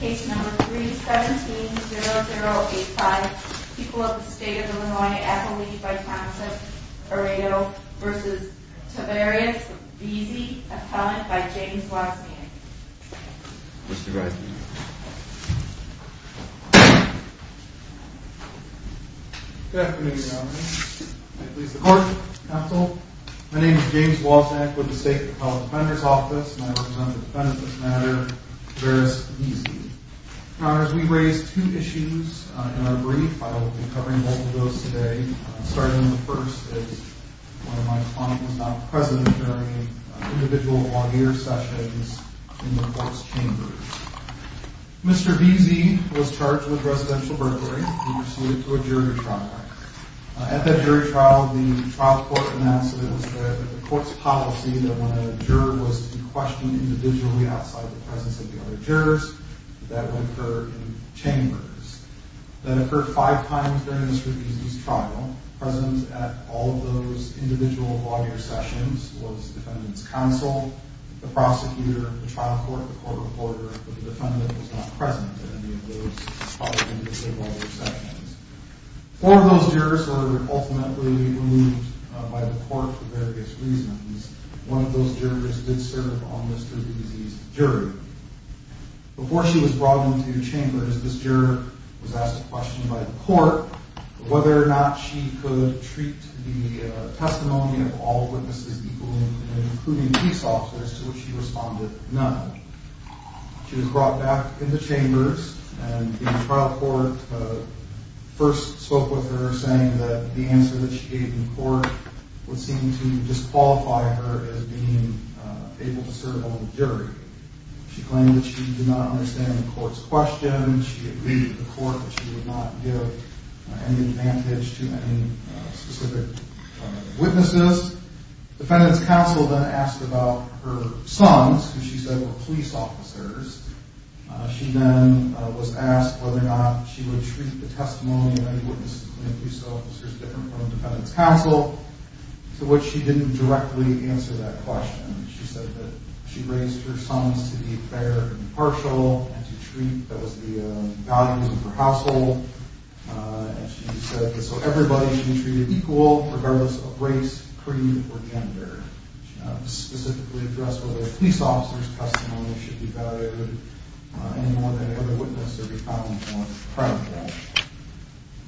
Case number 3-17-0085. People of the State of Illinois at the lead by Councilor Aredo v. Tavares v. Veazy. Appellant by James Waxman. Mr. Waxman. Good afternoon Your Honor. I please the Court, Counsel. My name is James Waxman with the State Appellant Defender's Office, and I represent the defendant in this matter, Tavares Veazy. Your Honor, as we raise two issues in our brief, I will be covering both of those today. Starting with the first, as one of my clients is not present during individual lawyer sessions in the Court's chambers. Mr. Veazy was charged with residential burglary. He was suited to a jury trial. At that jury trial, the trial court announced that it was the Court's policy that when a juror was to be questioned individually outside the presence of the other jurors, that would occur in chambers. That occurred five times during Mr. Veazy's trial. Present at all of those individual lawyer sessions was the defendant's counsel, the prosecutor of the trial court, the court reporter, but the defendant was not present at any of those public and individual lawyer sessions. Four of those jurors were ultimately removed by the Court for various reasons. One of those jurors did serve on Mr. Veazy's jury. Before she was brought into chambers, this juror was asked a question by the Court whether or not she could treat the testimony of all witnesses equally, including police officers, to which she responded, none. She was brought back into chambers, and the trial court first spoke with her, saying that the answer that she gave in court would seem to disqualify her as being able to serve on the jury. She claimed that she did not understand the Court's questions. She agreed with the Court that she would not give any advantage to any specific witnesses. The defendant's counsel then asked about her sons, who she said were police officers. She then was asked whether or not she would treat the testimony of any witnesses, any police officers, different from the defendant's counsel, to which she didn't directly answer that question. She said that she raised her sons to be fair and impartial and to treat those values of her household. She said that everybody should be treated equal, regardless of race, creed, or gender. She specifically addressed whether a police officer's testimony should be valued any more than any other witness, or be found more credible.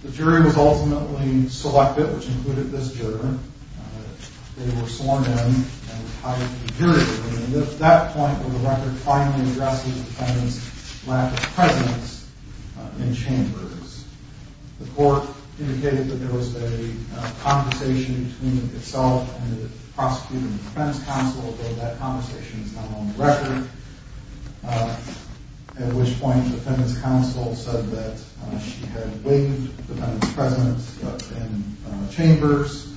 The jury was ultimately selected, which included this juror. They were sworn in and hired to be jurors. It was at that point where the record finally addressed the defendant's lack of presence in chambers. The Court indicated that there was a conversation between itself and the prosecutor and the defendant's counsel, though that conversation is not on the record, at which point the defendant's counsel said that she had waived the defendant's presence in chambers.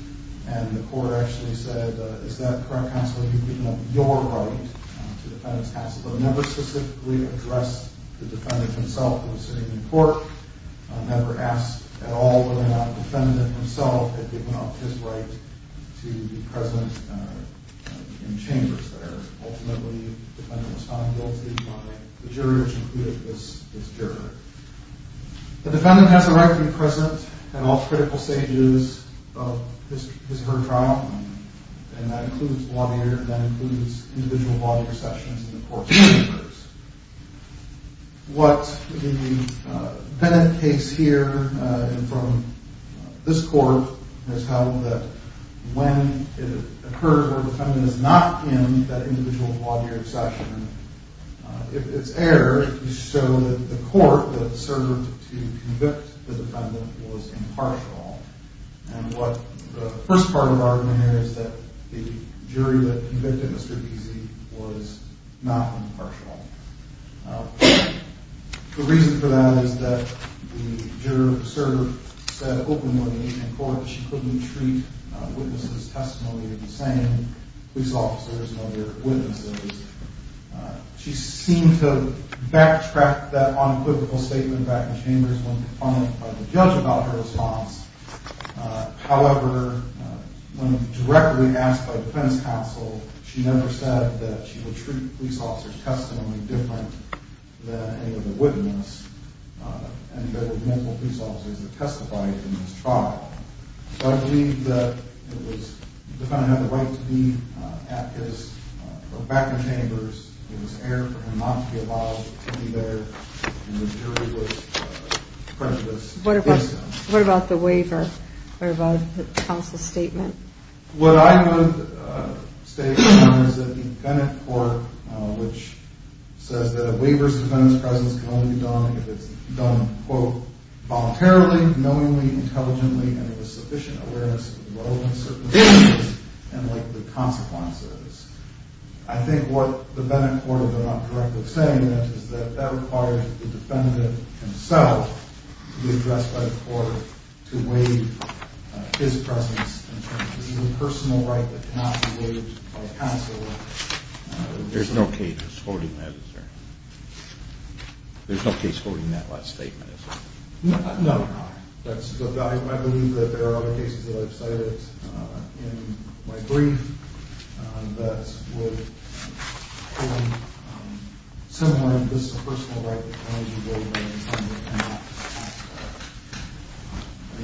And the Court actually said, is that correct, counsel? You've given up your right to the defendant's counsel, but never specifically addressed the defendant himself who was sitting in court, never asked at all whether or not the defendant himself had given up his right to be present in chambers there. Ultimately, the defendant was found guilty by the jurors, including this juror. The defendant has the right to be present at all critical stages of his or her trial, and that includes the lawyer, and that includes individual lawyer sessions in the court chambers. What the Bennett case here, and from this Court, has held that when it occurs where the defendant is not in that individual lawyer session, it's error to show that the court that served to convict the defendant was impartial. And what the first part of the argument here is that the jury that convicted Mr. Beezy was not impartial. The reason for that is that the juror, the server, said openly in court that she couldn't treat witnesses' testimony the same as police officers and other witnesses. She seemed to backtrack that unequivocal statement back in chambers when confronted by the judge about her response. However, when directly asked by defense counsel, she never said that she would treat police officers' testimony different than any other witness, and there were multiple police officers that testified in this trial. So I believe that it was, the defendant had the right to be at his or back in chambers. It was error for him not to be allowed to be there, and the jury was prejudiced against him. What about the waiver? What about the counsel's statement? What I would state is that the Bennett Court, which says that a waiver's defendant's presence can only be done if it's done, quote, voluntarily, knowingly, intelligently, and with sufficient awareness of the relevant circumstances and likely consequences, I think what the Bennett Court, if I'm not correctly saying, is that that requires the defendant himself to be addressed by the court to waive his presence in terms of even personal right that cannot be waived by counsel. There's no case holding that, is there? There's no case holding that last statement, is there? No. I believe that there are other cases that I've cited in my brief that would hold someone, this is a personal right that cannot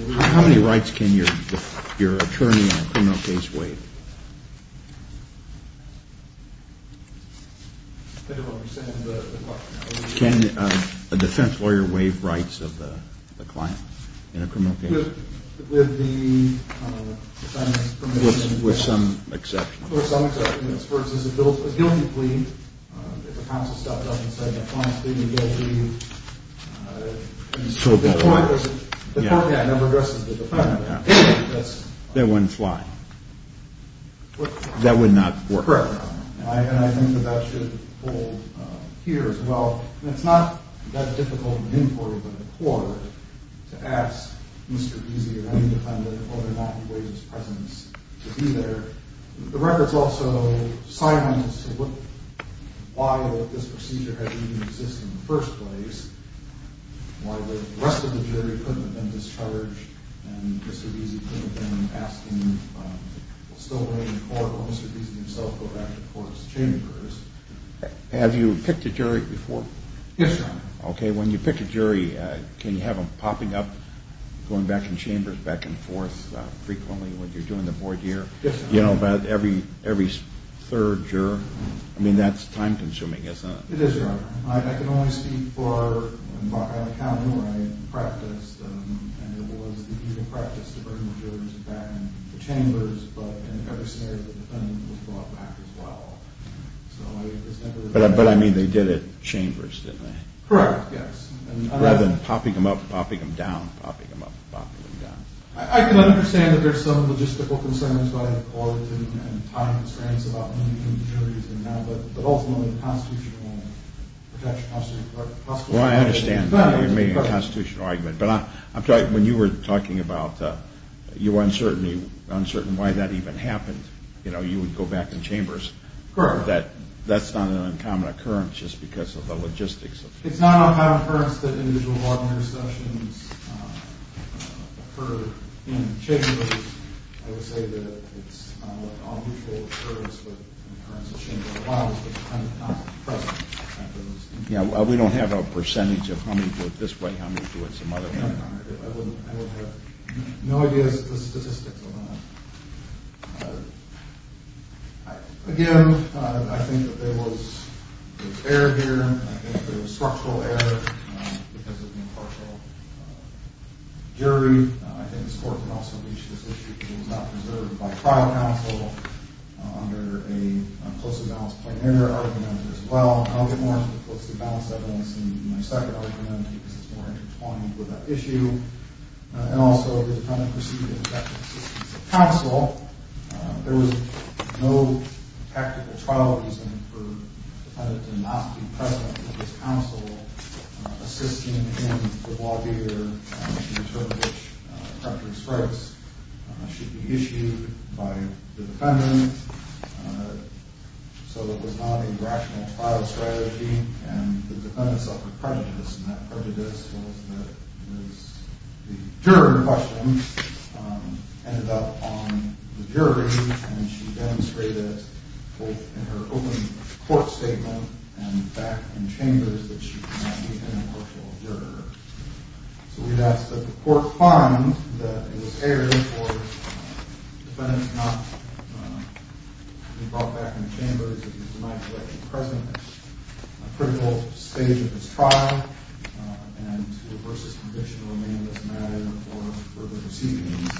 be waived. How many rights can your attorney in a criminal case waive? I don't understand the question. Can a defense lawyer waive rights of the client in a criminal case? With the defendant's permission. With some exceptions. With some exceptions. For instance, a guilty plea, if the counsel stops up and says, the client's being a guilty, the court never addresses the defendant. That wouldn't fly. That would not work. Correct. And I think that that should hold here as well. And it's not that difficult and important for the court to ask Mr. Easy or any defendant whether or not he waives his presence to be there. The record's also silent as to why this procedure had to even exist in the first place, why the rest of the jury couldn't have been discharged, and Mr. Easy couldn't have been asked to still remain in court or Mr. Easy himself go back to the court's chambers. Yes, Your Honor. Okay, when you pick a jury, can you have them popping up, going back in chambers, back and forth frequently when you're doing the voir dire? Yes, Your Honor. You know, about every third juror? I mean, that's time-consuming, isn't it? It is, Your Honor. I can only speak for in Rock Island County where I practiced, and it was the usual practice to bring the jurors back in the chambers, but in every scenario the defendant was brought back as well. But, I mean, they did it chambers, didn't they? Correct, yes. Rather than popping them up, popping them down, popping them up, popping them down. I can understand that there's some logistical concerns by the court and time constraints about moving the jurors in and out, but ultimately the Constitution won't protect you. Well, I understand that you're making a constitutional argument, but when you were talking about your uncertainty, why that even happened, you know, you would go back in chambers. Correct. That's not an uncommon occurrence just because of the logistics. It's not an uncommon occurrence that individual voir dire sessions occur in chambers. I would say that it's not an unusual occurrence, but in terms of chamber law it's not present. Yeah, well, we don't have a percentage of how many do it this way, how many do it some other way. I have no idea of the statistics on that. Again, I think that there was error here. I think there was structural error because of the impartial jury. I think this court could also reach this issue if it was not preserved by trial counsel under a closely balanced plenary argument as well. I'll get more into the closely balanced evidence in my second argument because it's more intertwined with that issue. And also, the defendant proceeded in the back of the assistance of counsel. There was no tactical trial reason for the defendant to not be present with his counsel assisting in the voir dire to determine which corrective strikes should be issued by the defendant. So it was not a rational trial strategy, and the defendant suffered prejudice, and that prejudice was that the juror question ended up on the jury, and she demonstrated both in her open court statement and back in chambers that she could not be an impartial juror. So we'd ask that the court find that it was error for the defendant to not be brought back in the chambers if he's denied the right to be present at a critical stage of his trial and to reverse his conviction or remain in this matter for further proceedings.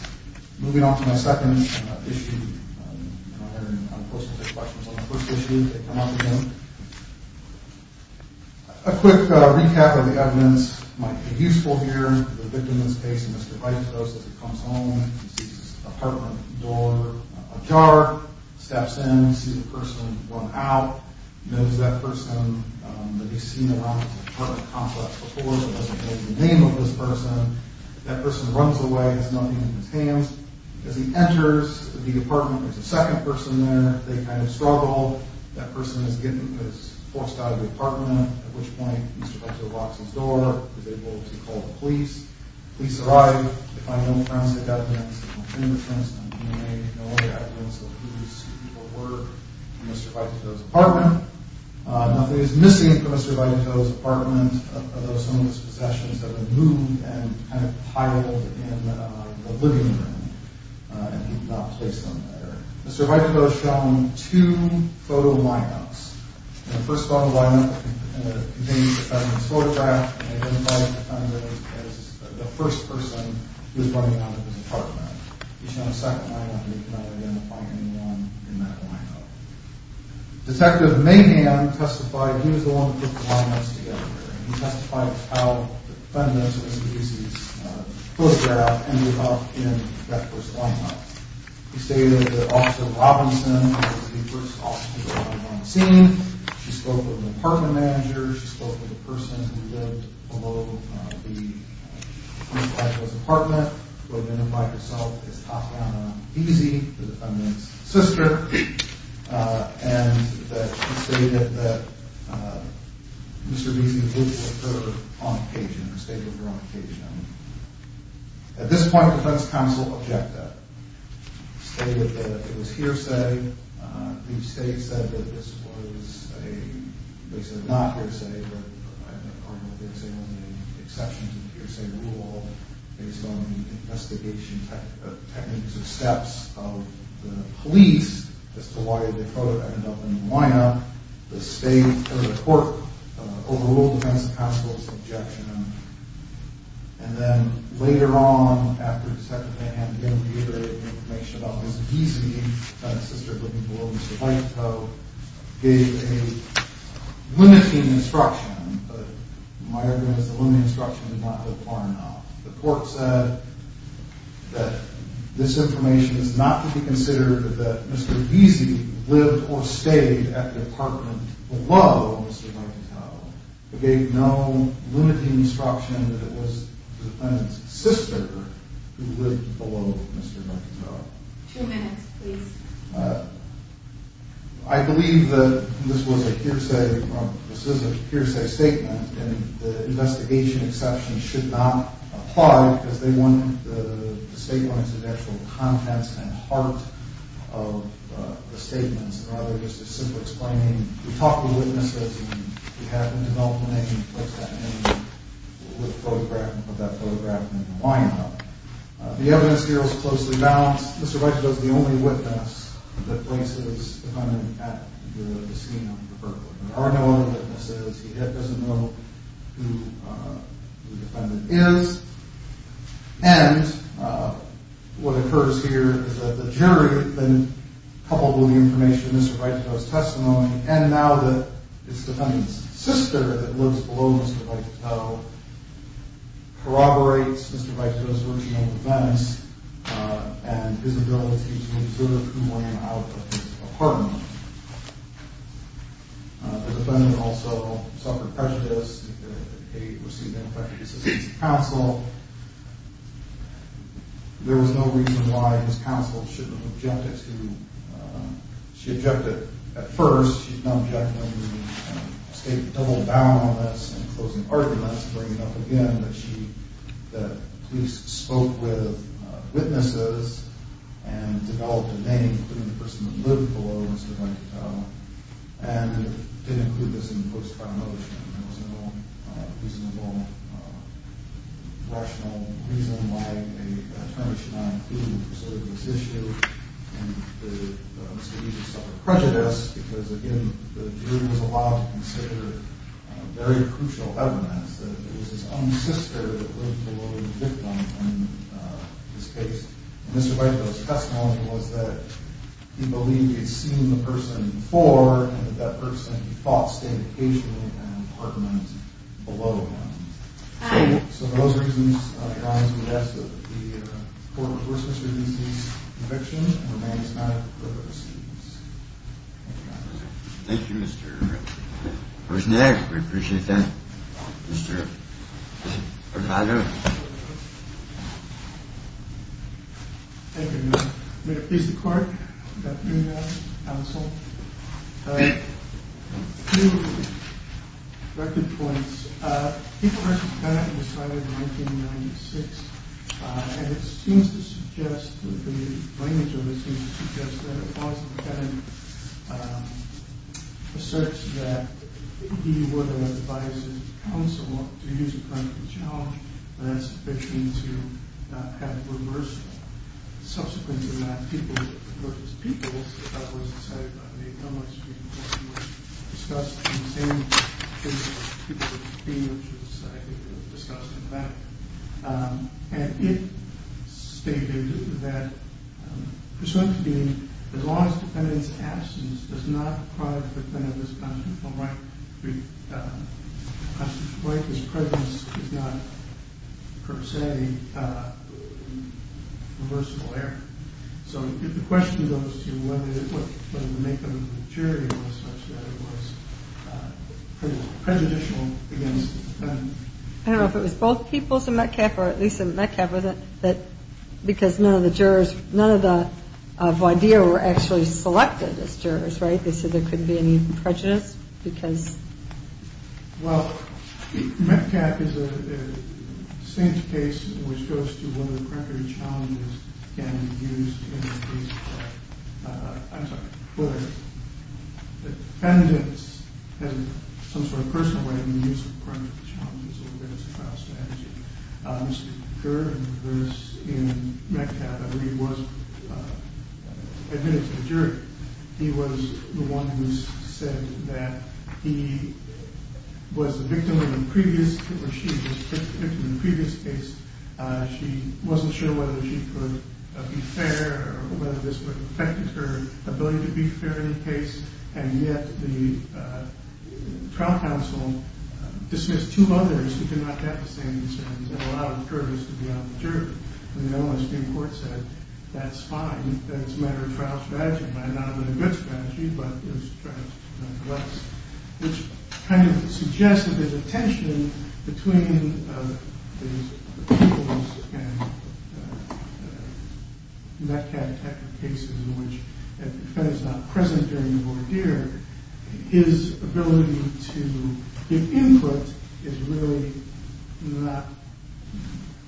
Moving on to my second issue, and I'll post the questions on the first issue that come up again. A quick recap of the evidence might be useful here. The victim in this case, Mr. White, goes and comes home and sees his apartment door ajar, steps in, sees the person run out, knows that person that he's seen around the apartment complex before, but doesn't know the name of this person. That person runs away, has nothing in his hands. As he enters the apartment, there's a second person there. They kind of struggle. That person is forced out of the apartment, at which point Mr. White goes and locks his door. He's able to call the police. The police arrive. They find no forensic evidence, no fingerprints, no DNA, no other evidence of who these people were from Mr. Vitekdo's apartment. Nothing is missing from Mr. Vitekdo's apartment, although some of his possessions have been moved and kind of piled in the living room, and he did not place them there. Mr. Vitekdo has shown two photo line-ups. The first photo line-up contained the defendant's photograph and identified the defendant as the first person he was running out of his apartment. He's shown a second line-up. He did not identify anyone in that line-up. Detective Mahan testified he was the one who put the line-ups together. He testified how the defendant, as he sees his photograph, ended up in that first line-up. He stated that Officer Robinson was the first officer to arrive on the scene. She spoke with the apartment manager. She spoke with the person who lived below the front of Mr. Vitekdo's apartment, who identified herself as Tatiana Beese, the defendant's sister, and that she stated that Mr. Beese lived with her on occasion, or stayed with her on occasion. At this point, the defense counsel objected, stated that it was hearsay. Each state said that this was a case of not hearsay, but I don't know if there's any exceptions to the hearsay rule based on the investigation techniques or steps of the police as to why the photograph ended up in the line-up. The state court overruled the defense counsel's objection. And then later on, after Detective Mahan began reiterating information about Mr. Beese, the sister living below Mr. Vitekdo, gave a limiting instruction, but my argument is the limiting instruction did not go far enough. The court said that this information is not to be considered that Mr. Beese lived or stayed at the apartment below Mr. Vitekdo. It gave no limiting instruction that it was the defendant's sister who lived below Mr. Vitekdo. Two minutes, please. I believe that this was a hearsay, this is a hearsay statement, and the investigation exception should not apply because they wanted the statement as an actual context and heart of the statements, rather just a simple explaining, we talked to witnesses, and we happened to know the name, what's that name of that photograph in the line-up. The evidence here is closely balanced. Mr. Vitekdo is the only witness that places the defendant at the scene of the burglary. There are no other witnesses. He doesn't know who the defendant is. And what occurs here is that the jury, coupled with the information in Mr. Vitekdo's testimony, and now that it's the defendant's sister that lives below Mr. Vitekdo, corroborates Mr. Vitekdo's original defense and his ability to observe who ran out of his apartment. The defendant also suffered prejudice. They received ineffective assistance from counsel. There was no reason why his counsel shouldn't have objected to, she objected at first, she's not objecting when we state the double bound on this and closing arguments, bringing up again that she, that police spoke with witnesses and developed a name, including the person that lived below Mr. Vitekdo, and didn't include this in the post-criminal motion. There was no reasonable, rational reason why an attorney should not be able to serve this issue and the investigation suffered prejudice because, again, the jury was allowed to consider very crucial evidence that it was his own sister that lived below the victim in this case. And Mr. Vitekdo's testimony was that he believed he'd seen the person before and that that person, he thought, stayed occasionally in an apartment below him. So for those reasons, I rise to the desk of the Court of Rehorses for DC's conviction and remain silent for further proceedings. Thank you, Your Honor. Where's Nick? We appreciate that. Mr. Vitekdo. Thank you, Your Honor. May it please the Court that we have counsel. A few record points. People vs. People was started in 1996, and it seems to suggest, the language of it seems to suggest, that it was a kind of a search that he would advise his counsel to use a kind of a challenge and that's between to have reversal. Subsequently, that People vs. People was decided by the Mayor of Dunlop Street which was discussed in the same case as People vs. People, which was, I think, discussed in the back. And it stated that the presumption being, as long as the defendant's absence does not prod the defendant's constitutional right, his presence is not, per se, a reversible error. So the question goes to whether the makeup of the jury was such that it was pretty prejudicial against the defendant. I don't know if it was both Peoples and Metcalfe, or at least in Metcalfe, because none of the jurors, none of the voir dire were actually selected as jurors, right? They said there couldn't be any prejudice because... Well, Metcalfe is the same case which goes to whether the primary challenges can be used in the case of... I'm sorry, whether the defendants have some sort of personal way of using the primary challenges or whether it's a trial strategy. Mr. Kerr, in reverse, in Metcalfe, I believe, was admitted to the jury. He was the one who said that he was the victim in the previous, or she was the victim in the previous case. She wasn't sure whether she could be fair or whether this would affect her ability to be fair in the case. And yet the trial counsel dismissed two others who did not have the same concerns and allowed the jurors to be on the jury. And the only Supreme Court said, that's fine, that it's a matter of trial strategy. It might not have been a good strategy, but it was a trial strategy nonetheless. Which kind of suggests that there's a tension between the Peoples and Metcalfe cases in which a defendant is not present during the voir dire. His ability to give input is really not...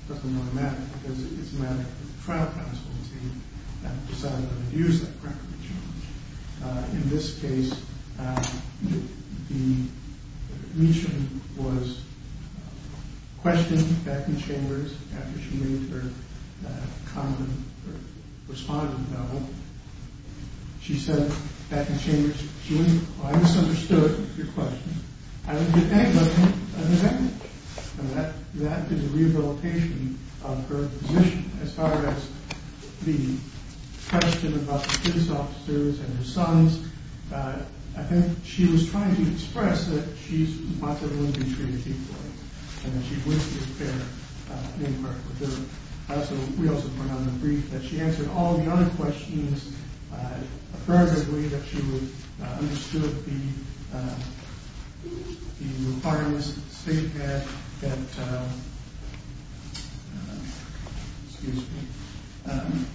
doesn't really matter, because it's a matter of trial counsel that decided to use that primary challenge. In this case, the admission was questioned back in chambers after she made her respondent known. She said back in chambers, she went, I misunderstood your question. I would give anybody an amendment. And that did the rehabilitation of her admission. As far as the question about the police officers and her sons, I think she was trying to express that she's not going to be treated equally. And that she wishes there an impartial jury. We also put out a brief that she answered all the other questions affirmatively that she understood the requirements that the state had.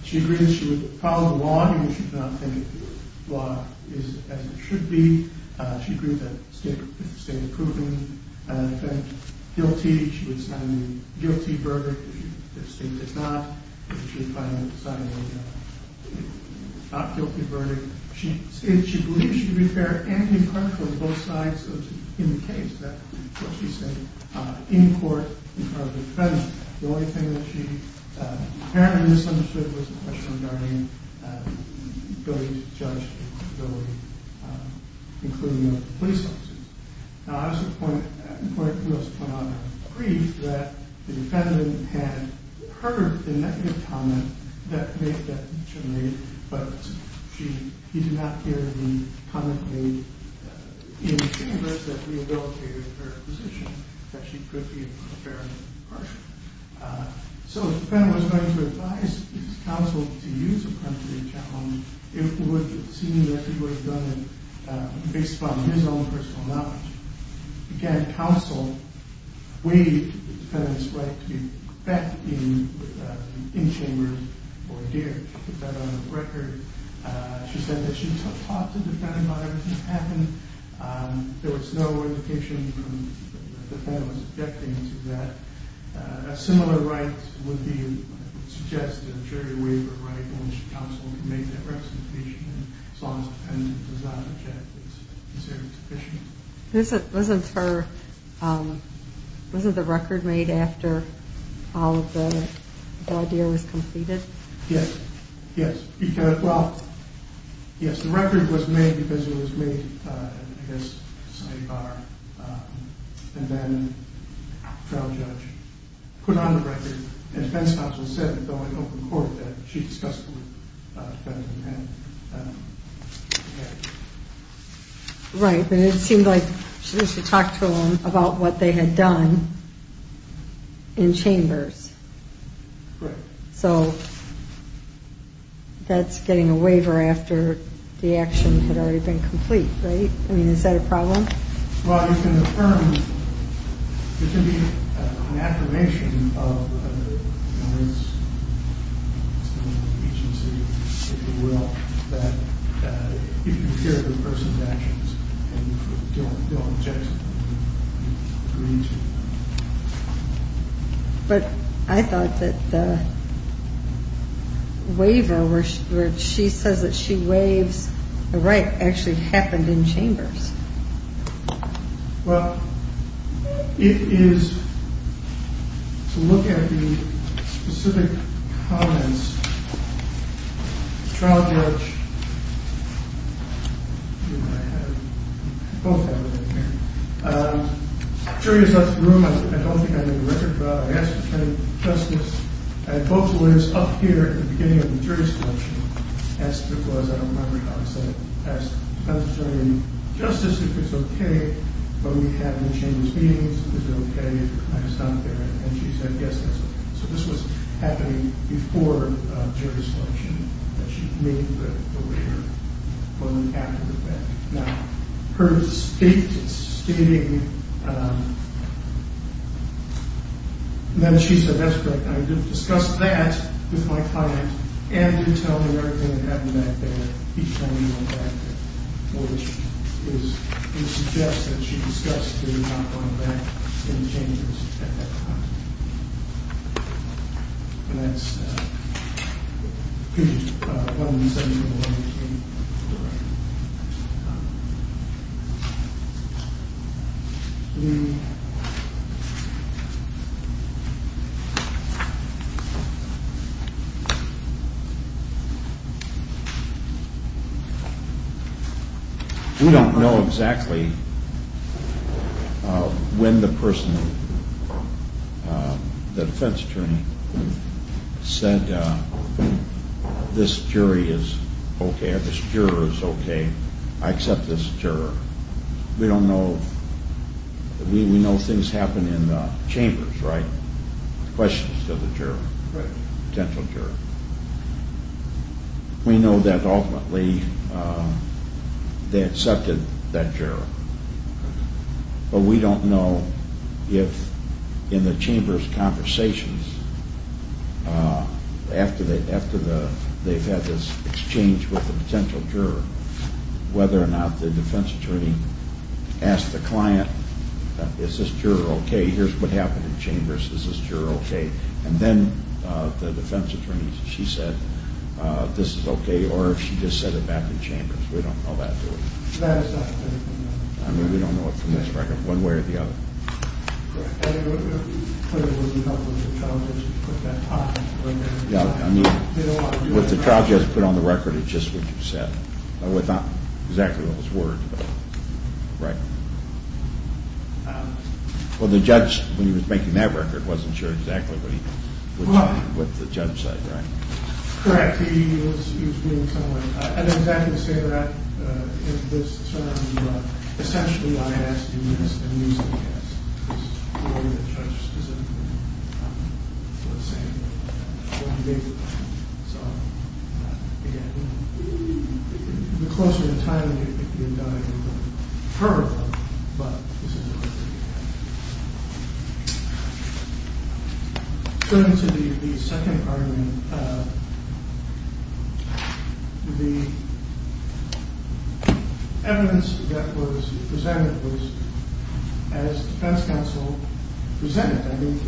She agreed that she would follow the law, even if she did not think the law is as it should be. She agreed that the state had proven the defendant guilty. She agreed she would sign a guilty verdict if the state did not. She agreed she would sign a not guilty verdict. She said she believed she would be fair and impartial on both sides in the case. That's what she said in court in front of the defendant. The only thing that she apparently misunderstood was the question regarding the ability to judge, including the police officers. I also put out a brief that the defendant had heard the negative comment that she made, but he did not hear the comment made in the chambers that rehabilitated her position. That she could be fair and impartial. So if the defendant was going to advise his counsel to use a penalty challenge, it would seem that he would have done it based on his own personal knowledge. Again, counsel waived the defendant's right to be back in the chambers for a year. She put that on the record. She said that she talked to the defendant about everything that happened. There was no indication from the defendant's objecting to that. A similar right would suggest a jury waiver right in which counsel can make that representation. As long as the defendant does not object, it's considered sufficient. Wasn't the record made after all of the idea was completed? Yes. Yes, the record was made because it was made at a bar, and then a trial judge put it on the record, and the defense counsel said in an open court that she discussed it with the defendant. Right, but it seemed like she talked to him about what they had done in chambers. Right. So that's getting a waiver after the action had already been complete, right? I mean, is that a problem? Well, it can be an affirmation of the defense's agency, if you will, that you consider the person's actions and you don't object to them. But I thought that the waiver where she says that she waives the right actually happened in chambers. Well, it is, to look at the specific comments, the trial judge, I have, both have it in here, the jury is up in the room, I don't think I made a record of it, I asked if there was any justice, and both lawyers up here at the beginning of the jury selection asked if there was, I don't remember how to say it, asked if there was any justice, if it's okay, but we have in chambers meetings, is it okay, can I stop there, and she said yes, that's okay. So this was happening before jury selection, that she made the waiver when we acted with that. Now, her statement stating that she said that's correct, and I did discuss that with my client, and did tell her everything that happened back there, each time we went back there, which suggests that she discussed not going back in the chambers at that time. And that's one of the things that we were looking for. We don't know exactly when the person, the defense attorney, said this jury is okay, or this juror is okay, I accept this juror. We don't know, we know things happen in the chambers, right? Questions to the juror, potential juror. We know that ultimately they accepted that juror, but we don't know if in the chambers conversations, after they've had this exchange with the potential juror, whether or not the defense attorney asked the client, is this juror okay, here's what happened in chambers, is this juror okay? And then the defense attorney, she said this is okay, or if she just said it back in chambers. We don't know that, do we? I mean, we don't know it from this record, one way or the other. What the trial judge put on the record is just what you said, without exactly what was worded, right? Well, the judge, when he was making that record, wasn't sure exactly what the judge said, right? Correct. He was doing something like that. And I was actually going to say that in this term, but essentially, I asked him this, and he said yes. This is the way the judge specifically put it. It's what he basically said. Again, the closer in time you get to the indictment, the harder it will be, but this is what I think he said. Turning to the second argument, the evidence that was presented was, as defense counsel presented, I mean,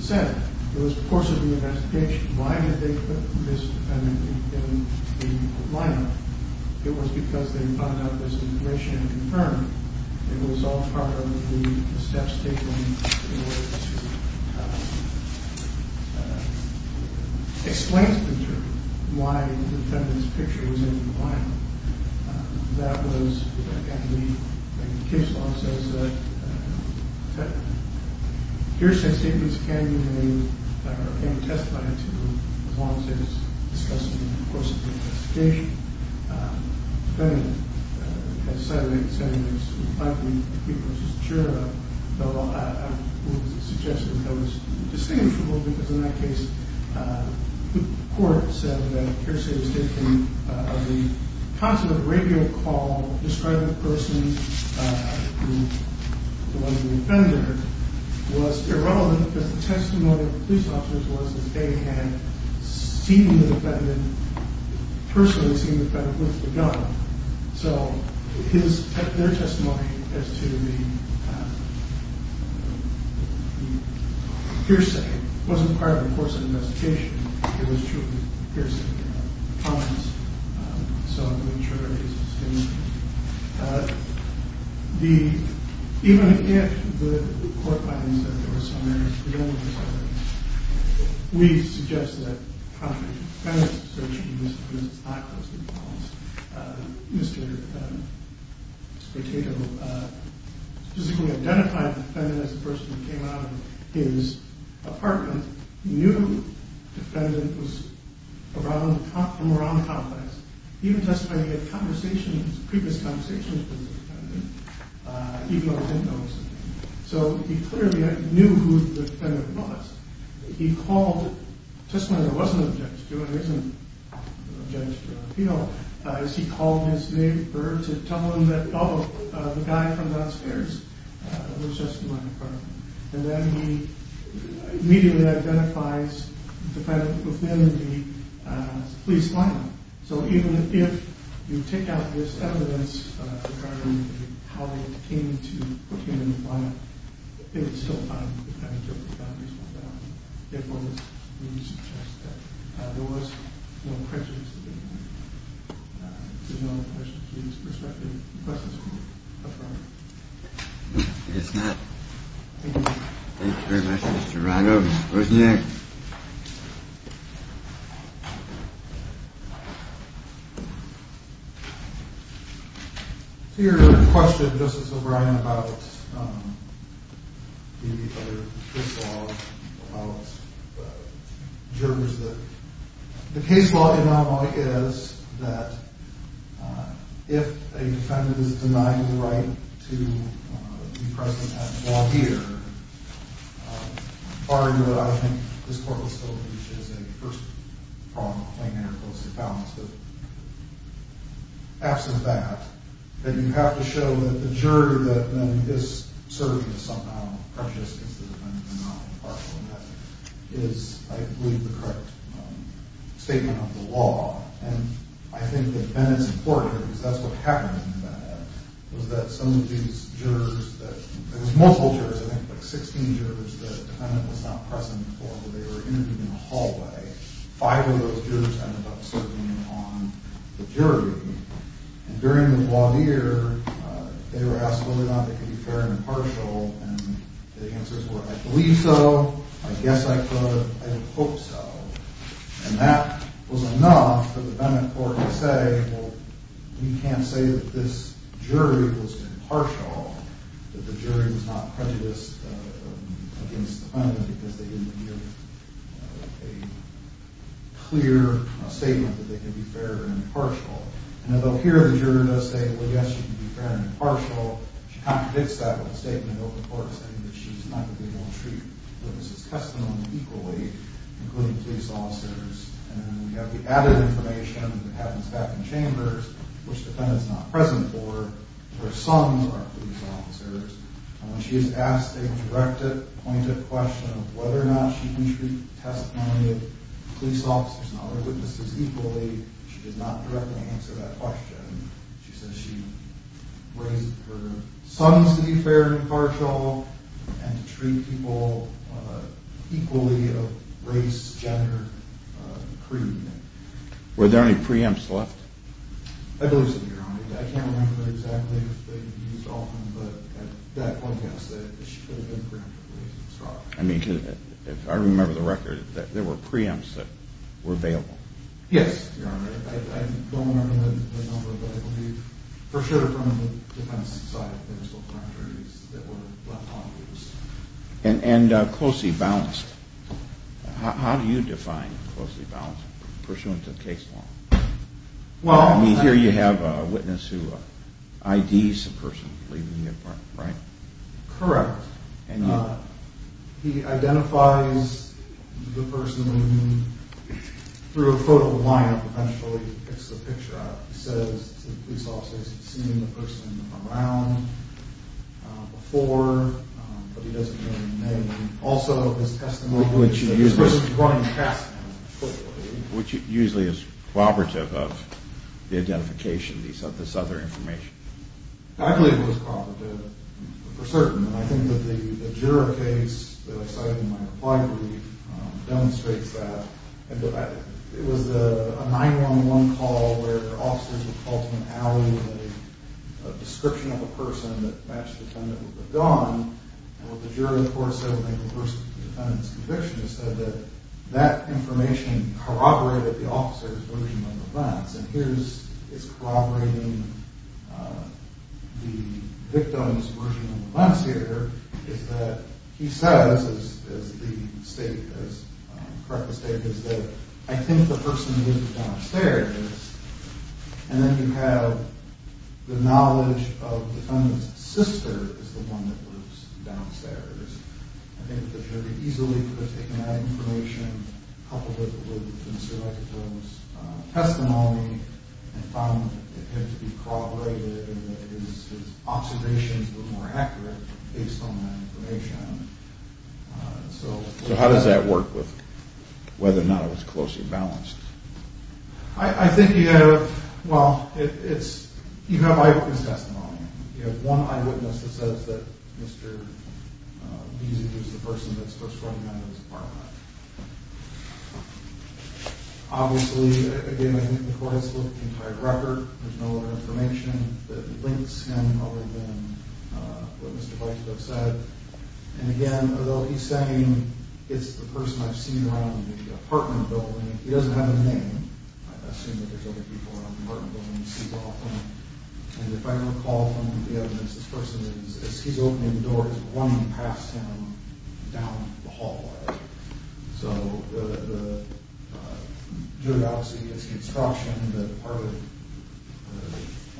said, it was the course of the investigation. Why did they put this defendant in the lineup? It was because they found out this information and confirmed it. It was all part of the steps taken in order to explain to the jury why the defendant's picture was in the lineup. And the case law says that hearsay statements can be made, or can be testified to, as long as it's discussed in the course of the investigation. The defendant, as Sotomayor was saying, is likely to be the person's juror. I would suggest that that was distinguishable, because in that case, the court said that hearsay was taken of the positive radio call describing the person who was the offender was irrelevant because the testimony of the police officers was that they had seen the defendant, personally seen the defendant, with the gun. So their testimony as to the hearsay wasn't part of the course of the investigation. It was truly hearsay. So I'm going to trigger his distinguishing. Even if the court finds that there was some error in the testimony, we suggest that contrary to the defendant's assertion, Mr. Spartato physically identified the defendant as the person who came out of his apartment, knew the defendant was around the complex. He even testified he had previous conversations with the defendant, even though he didn't know it was the defendant. So he clearly knew who the defendant was. He called, just when there wasn't an objection to it, there isn't an objection to an appeal, he called his neighbor to tell him that, oh, the guy from downstairs was just in my apartment. And then he immediately identifies the defendant within the police lineup. So even if you take out this evidence regarding how they came to put him in the lineup, it would still find the defendant guilty without reasonable doubt. Therefore, we suggest that there was no prejudice to the defendant. If there's no other questions, please respect the request of the court. I guess not. Thank you very much, Mr. Rado. Where's Nick? Your question, Justice O'Brien, about the case law in Iowa is that if a defendant is denied the right to be present at the law here, barring what I think this court has told you, which is a first-pronged claim to interpolistic balance, but absent that, then you have to show that the jury that then is serving is somehow prejudiced because the defendant is not impartial, and that is, I believe, the correct statement of the law. And I think that then it's important, because that's what happened, was that some of these jurors, there was multiple jurors, I think, like 16 jurors that the defendant was not present for, but they were interviewed in the hallway. Five of those jurors ended up serving on the jury. And during the law here, they were asked whether or not they could be fair and impartial, and the answers were, I believe so, I guess I could, I would hope so. And that was enough for the defendant court to say, well, we can't say that this jury was impartial, that the jury was not prejudiced against the defendant because they didn't give a clear statement that they could be fair and impartial. And although here the juror does say, well, yes, you can be fair and impartial, she contradicts that with a statement of the court saying that she's not going to be able to treat witnesses' testimony equally, including police officers. And then we have the added information that happens back in chambers, which the defendant's not present for. Her sons are police officers. And when she is asked a directed, pointed question of whether or not she can treat testimony of police officers and other witnesses equally, she does not directly answer that question. She says she raised her sons to be fair and impartial and to treat people equally of race, gender, creed. Were there any preempts left? I believe so, Your Honor. I can't remember exactly if they were used often, but at that point, yes, there were preempts. I mean, if I remember the record, there were preempts that were available. Yes, Your Honor, I don't remember the number, but I believe for sure they were from the defense side. There were still parameters that were left unused. And closely balanced. How do you define closely balanced pursuant to the case law? I mean, here you have a witness who IDs the person leaving the apartment, right? Correct. He identifies the person through a photo of the lineup eventually. He picks the picture up. He says to the police officers he's seen the person around before, but he doesn't give them a name. Also, his testimony, especially if he's running a task force. Which usually is corroborative of the identification of this other information. I believe it was corroborative for certain. And I think that the juror case that I cited in my reply brief demonstrates that. It was a 911 call where officers were called to an alley with a description of a person that matched the defendant with a gun. And what the jury report said when they reversed the defendant's conviction is that that information corroborated the officer's version of events. And here it's corroborating the victim's version of events here. He says, as the state has correctly stated, that I think the person lived downstairs. And then you have the knowledge of the defendant's sister is the one that lives downstairs. I think the jury easily could have taken that information, coupled it with Mr. Leclerc's testimony, and found that it had to be corroborated and that his observations were more accurate based on that information. So how does that work with whether or not it was closely balanced? I think you have, well, you have eyewitness testimony. You have one eyewitness that says that Mr. Leclerc was the person that spoke for him and was a part of that. Obviously, again, I think the court has looked at the entire record. There's no other information that links him other than what Mr. Leclerc said. And again, although he's saying it's the person I've seen around the apartment building, he doesn't have a name. I assume that there's other people around the apartment building you see often. And if I recall from the evidence, this person, as he's opening the door, is running past him down the hallway. So the jury, obviously, gets the instruction that part of it,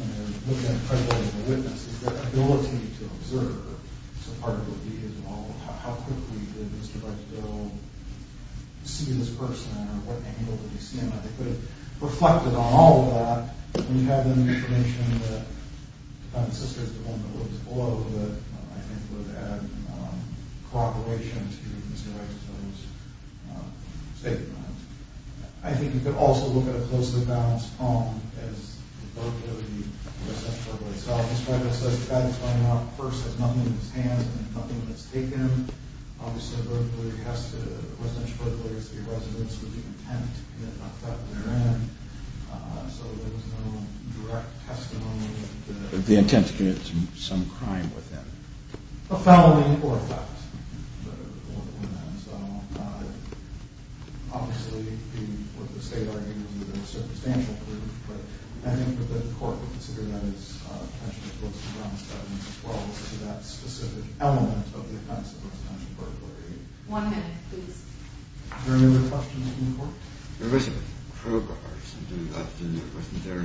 when they're looking at credibility of the witness, is their ability to observe. So part of it would be, well, how quickly did Mr. Leclerc go see this person? Or what angle did he see him at? So they could have reflected on all of that. We have the information that the Fountain Sisters, the woman who lives below, that I think would have had cooperation to get Mr. Leclerc to those statements. I think you could also look at a closely balanced poem as the credibility of the residential burglary itself. Mr. Leclerc has said that he's running out of purse. He has nothing in his hands and nothing that's taken. Obviously, a burglary has to, a residential burglary has to be a residence with the intent to commit an offense. So there was no direct testimony. The intent to commit some crime within. A felony or a theft. Obviously, what the state argued was that there was substantial proof. But I think that the court would consider that as potentially close to ground evidence as well. To that specific element of the offense of residential burglary. One minute, please. Are there any other questions from the court? There was a crowbar or something left in there, wasn't there?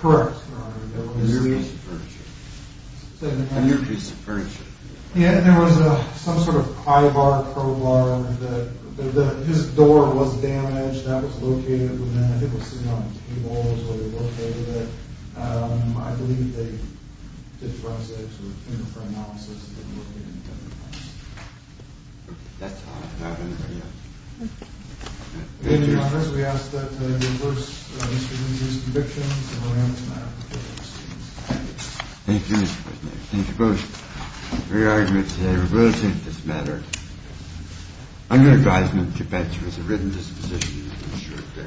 Correct, Your Honor. A near piece of furniture. A near piece of furniture. Yeah, there was some sort of high bar crowbar. His door was damaged. That was located within, I think it was sitting on the table is where they located it. I believe they did process it for analysis. Okay, that's all I have on the video. Your Honor, we ask that you reverse Mr. Nguyen's conviction. Thank you, Mr. President. Thank you both for your arguments today. We will take this matter under advisement to bench with a written disposition.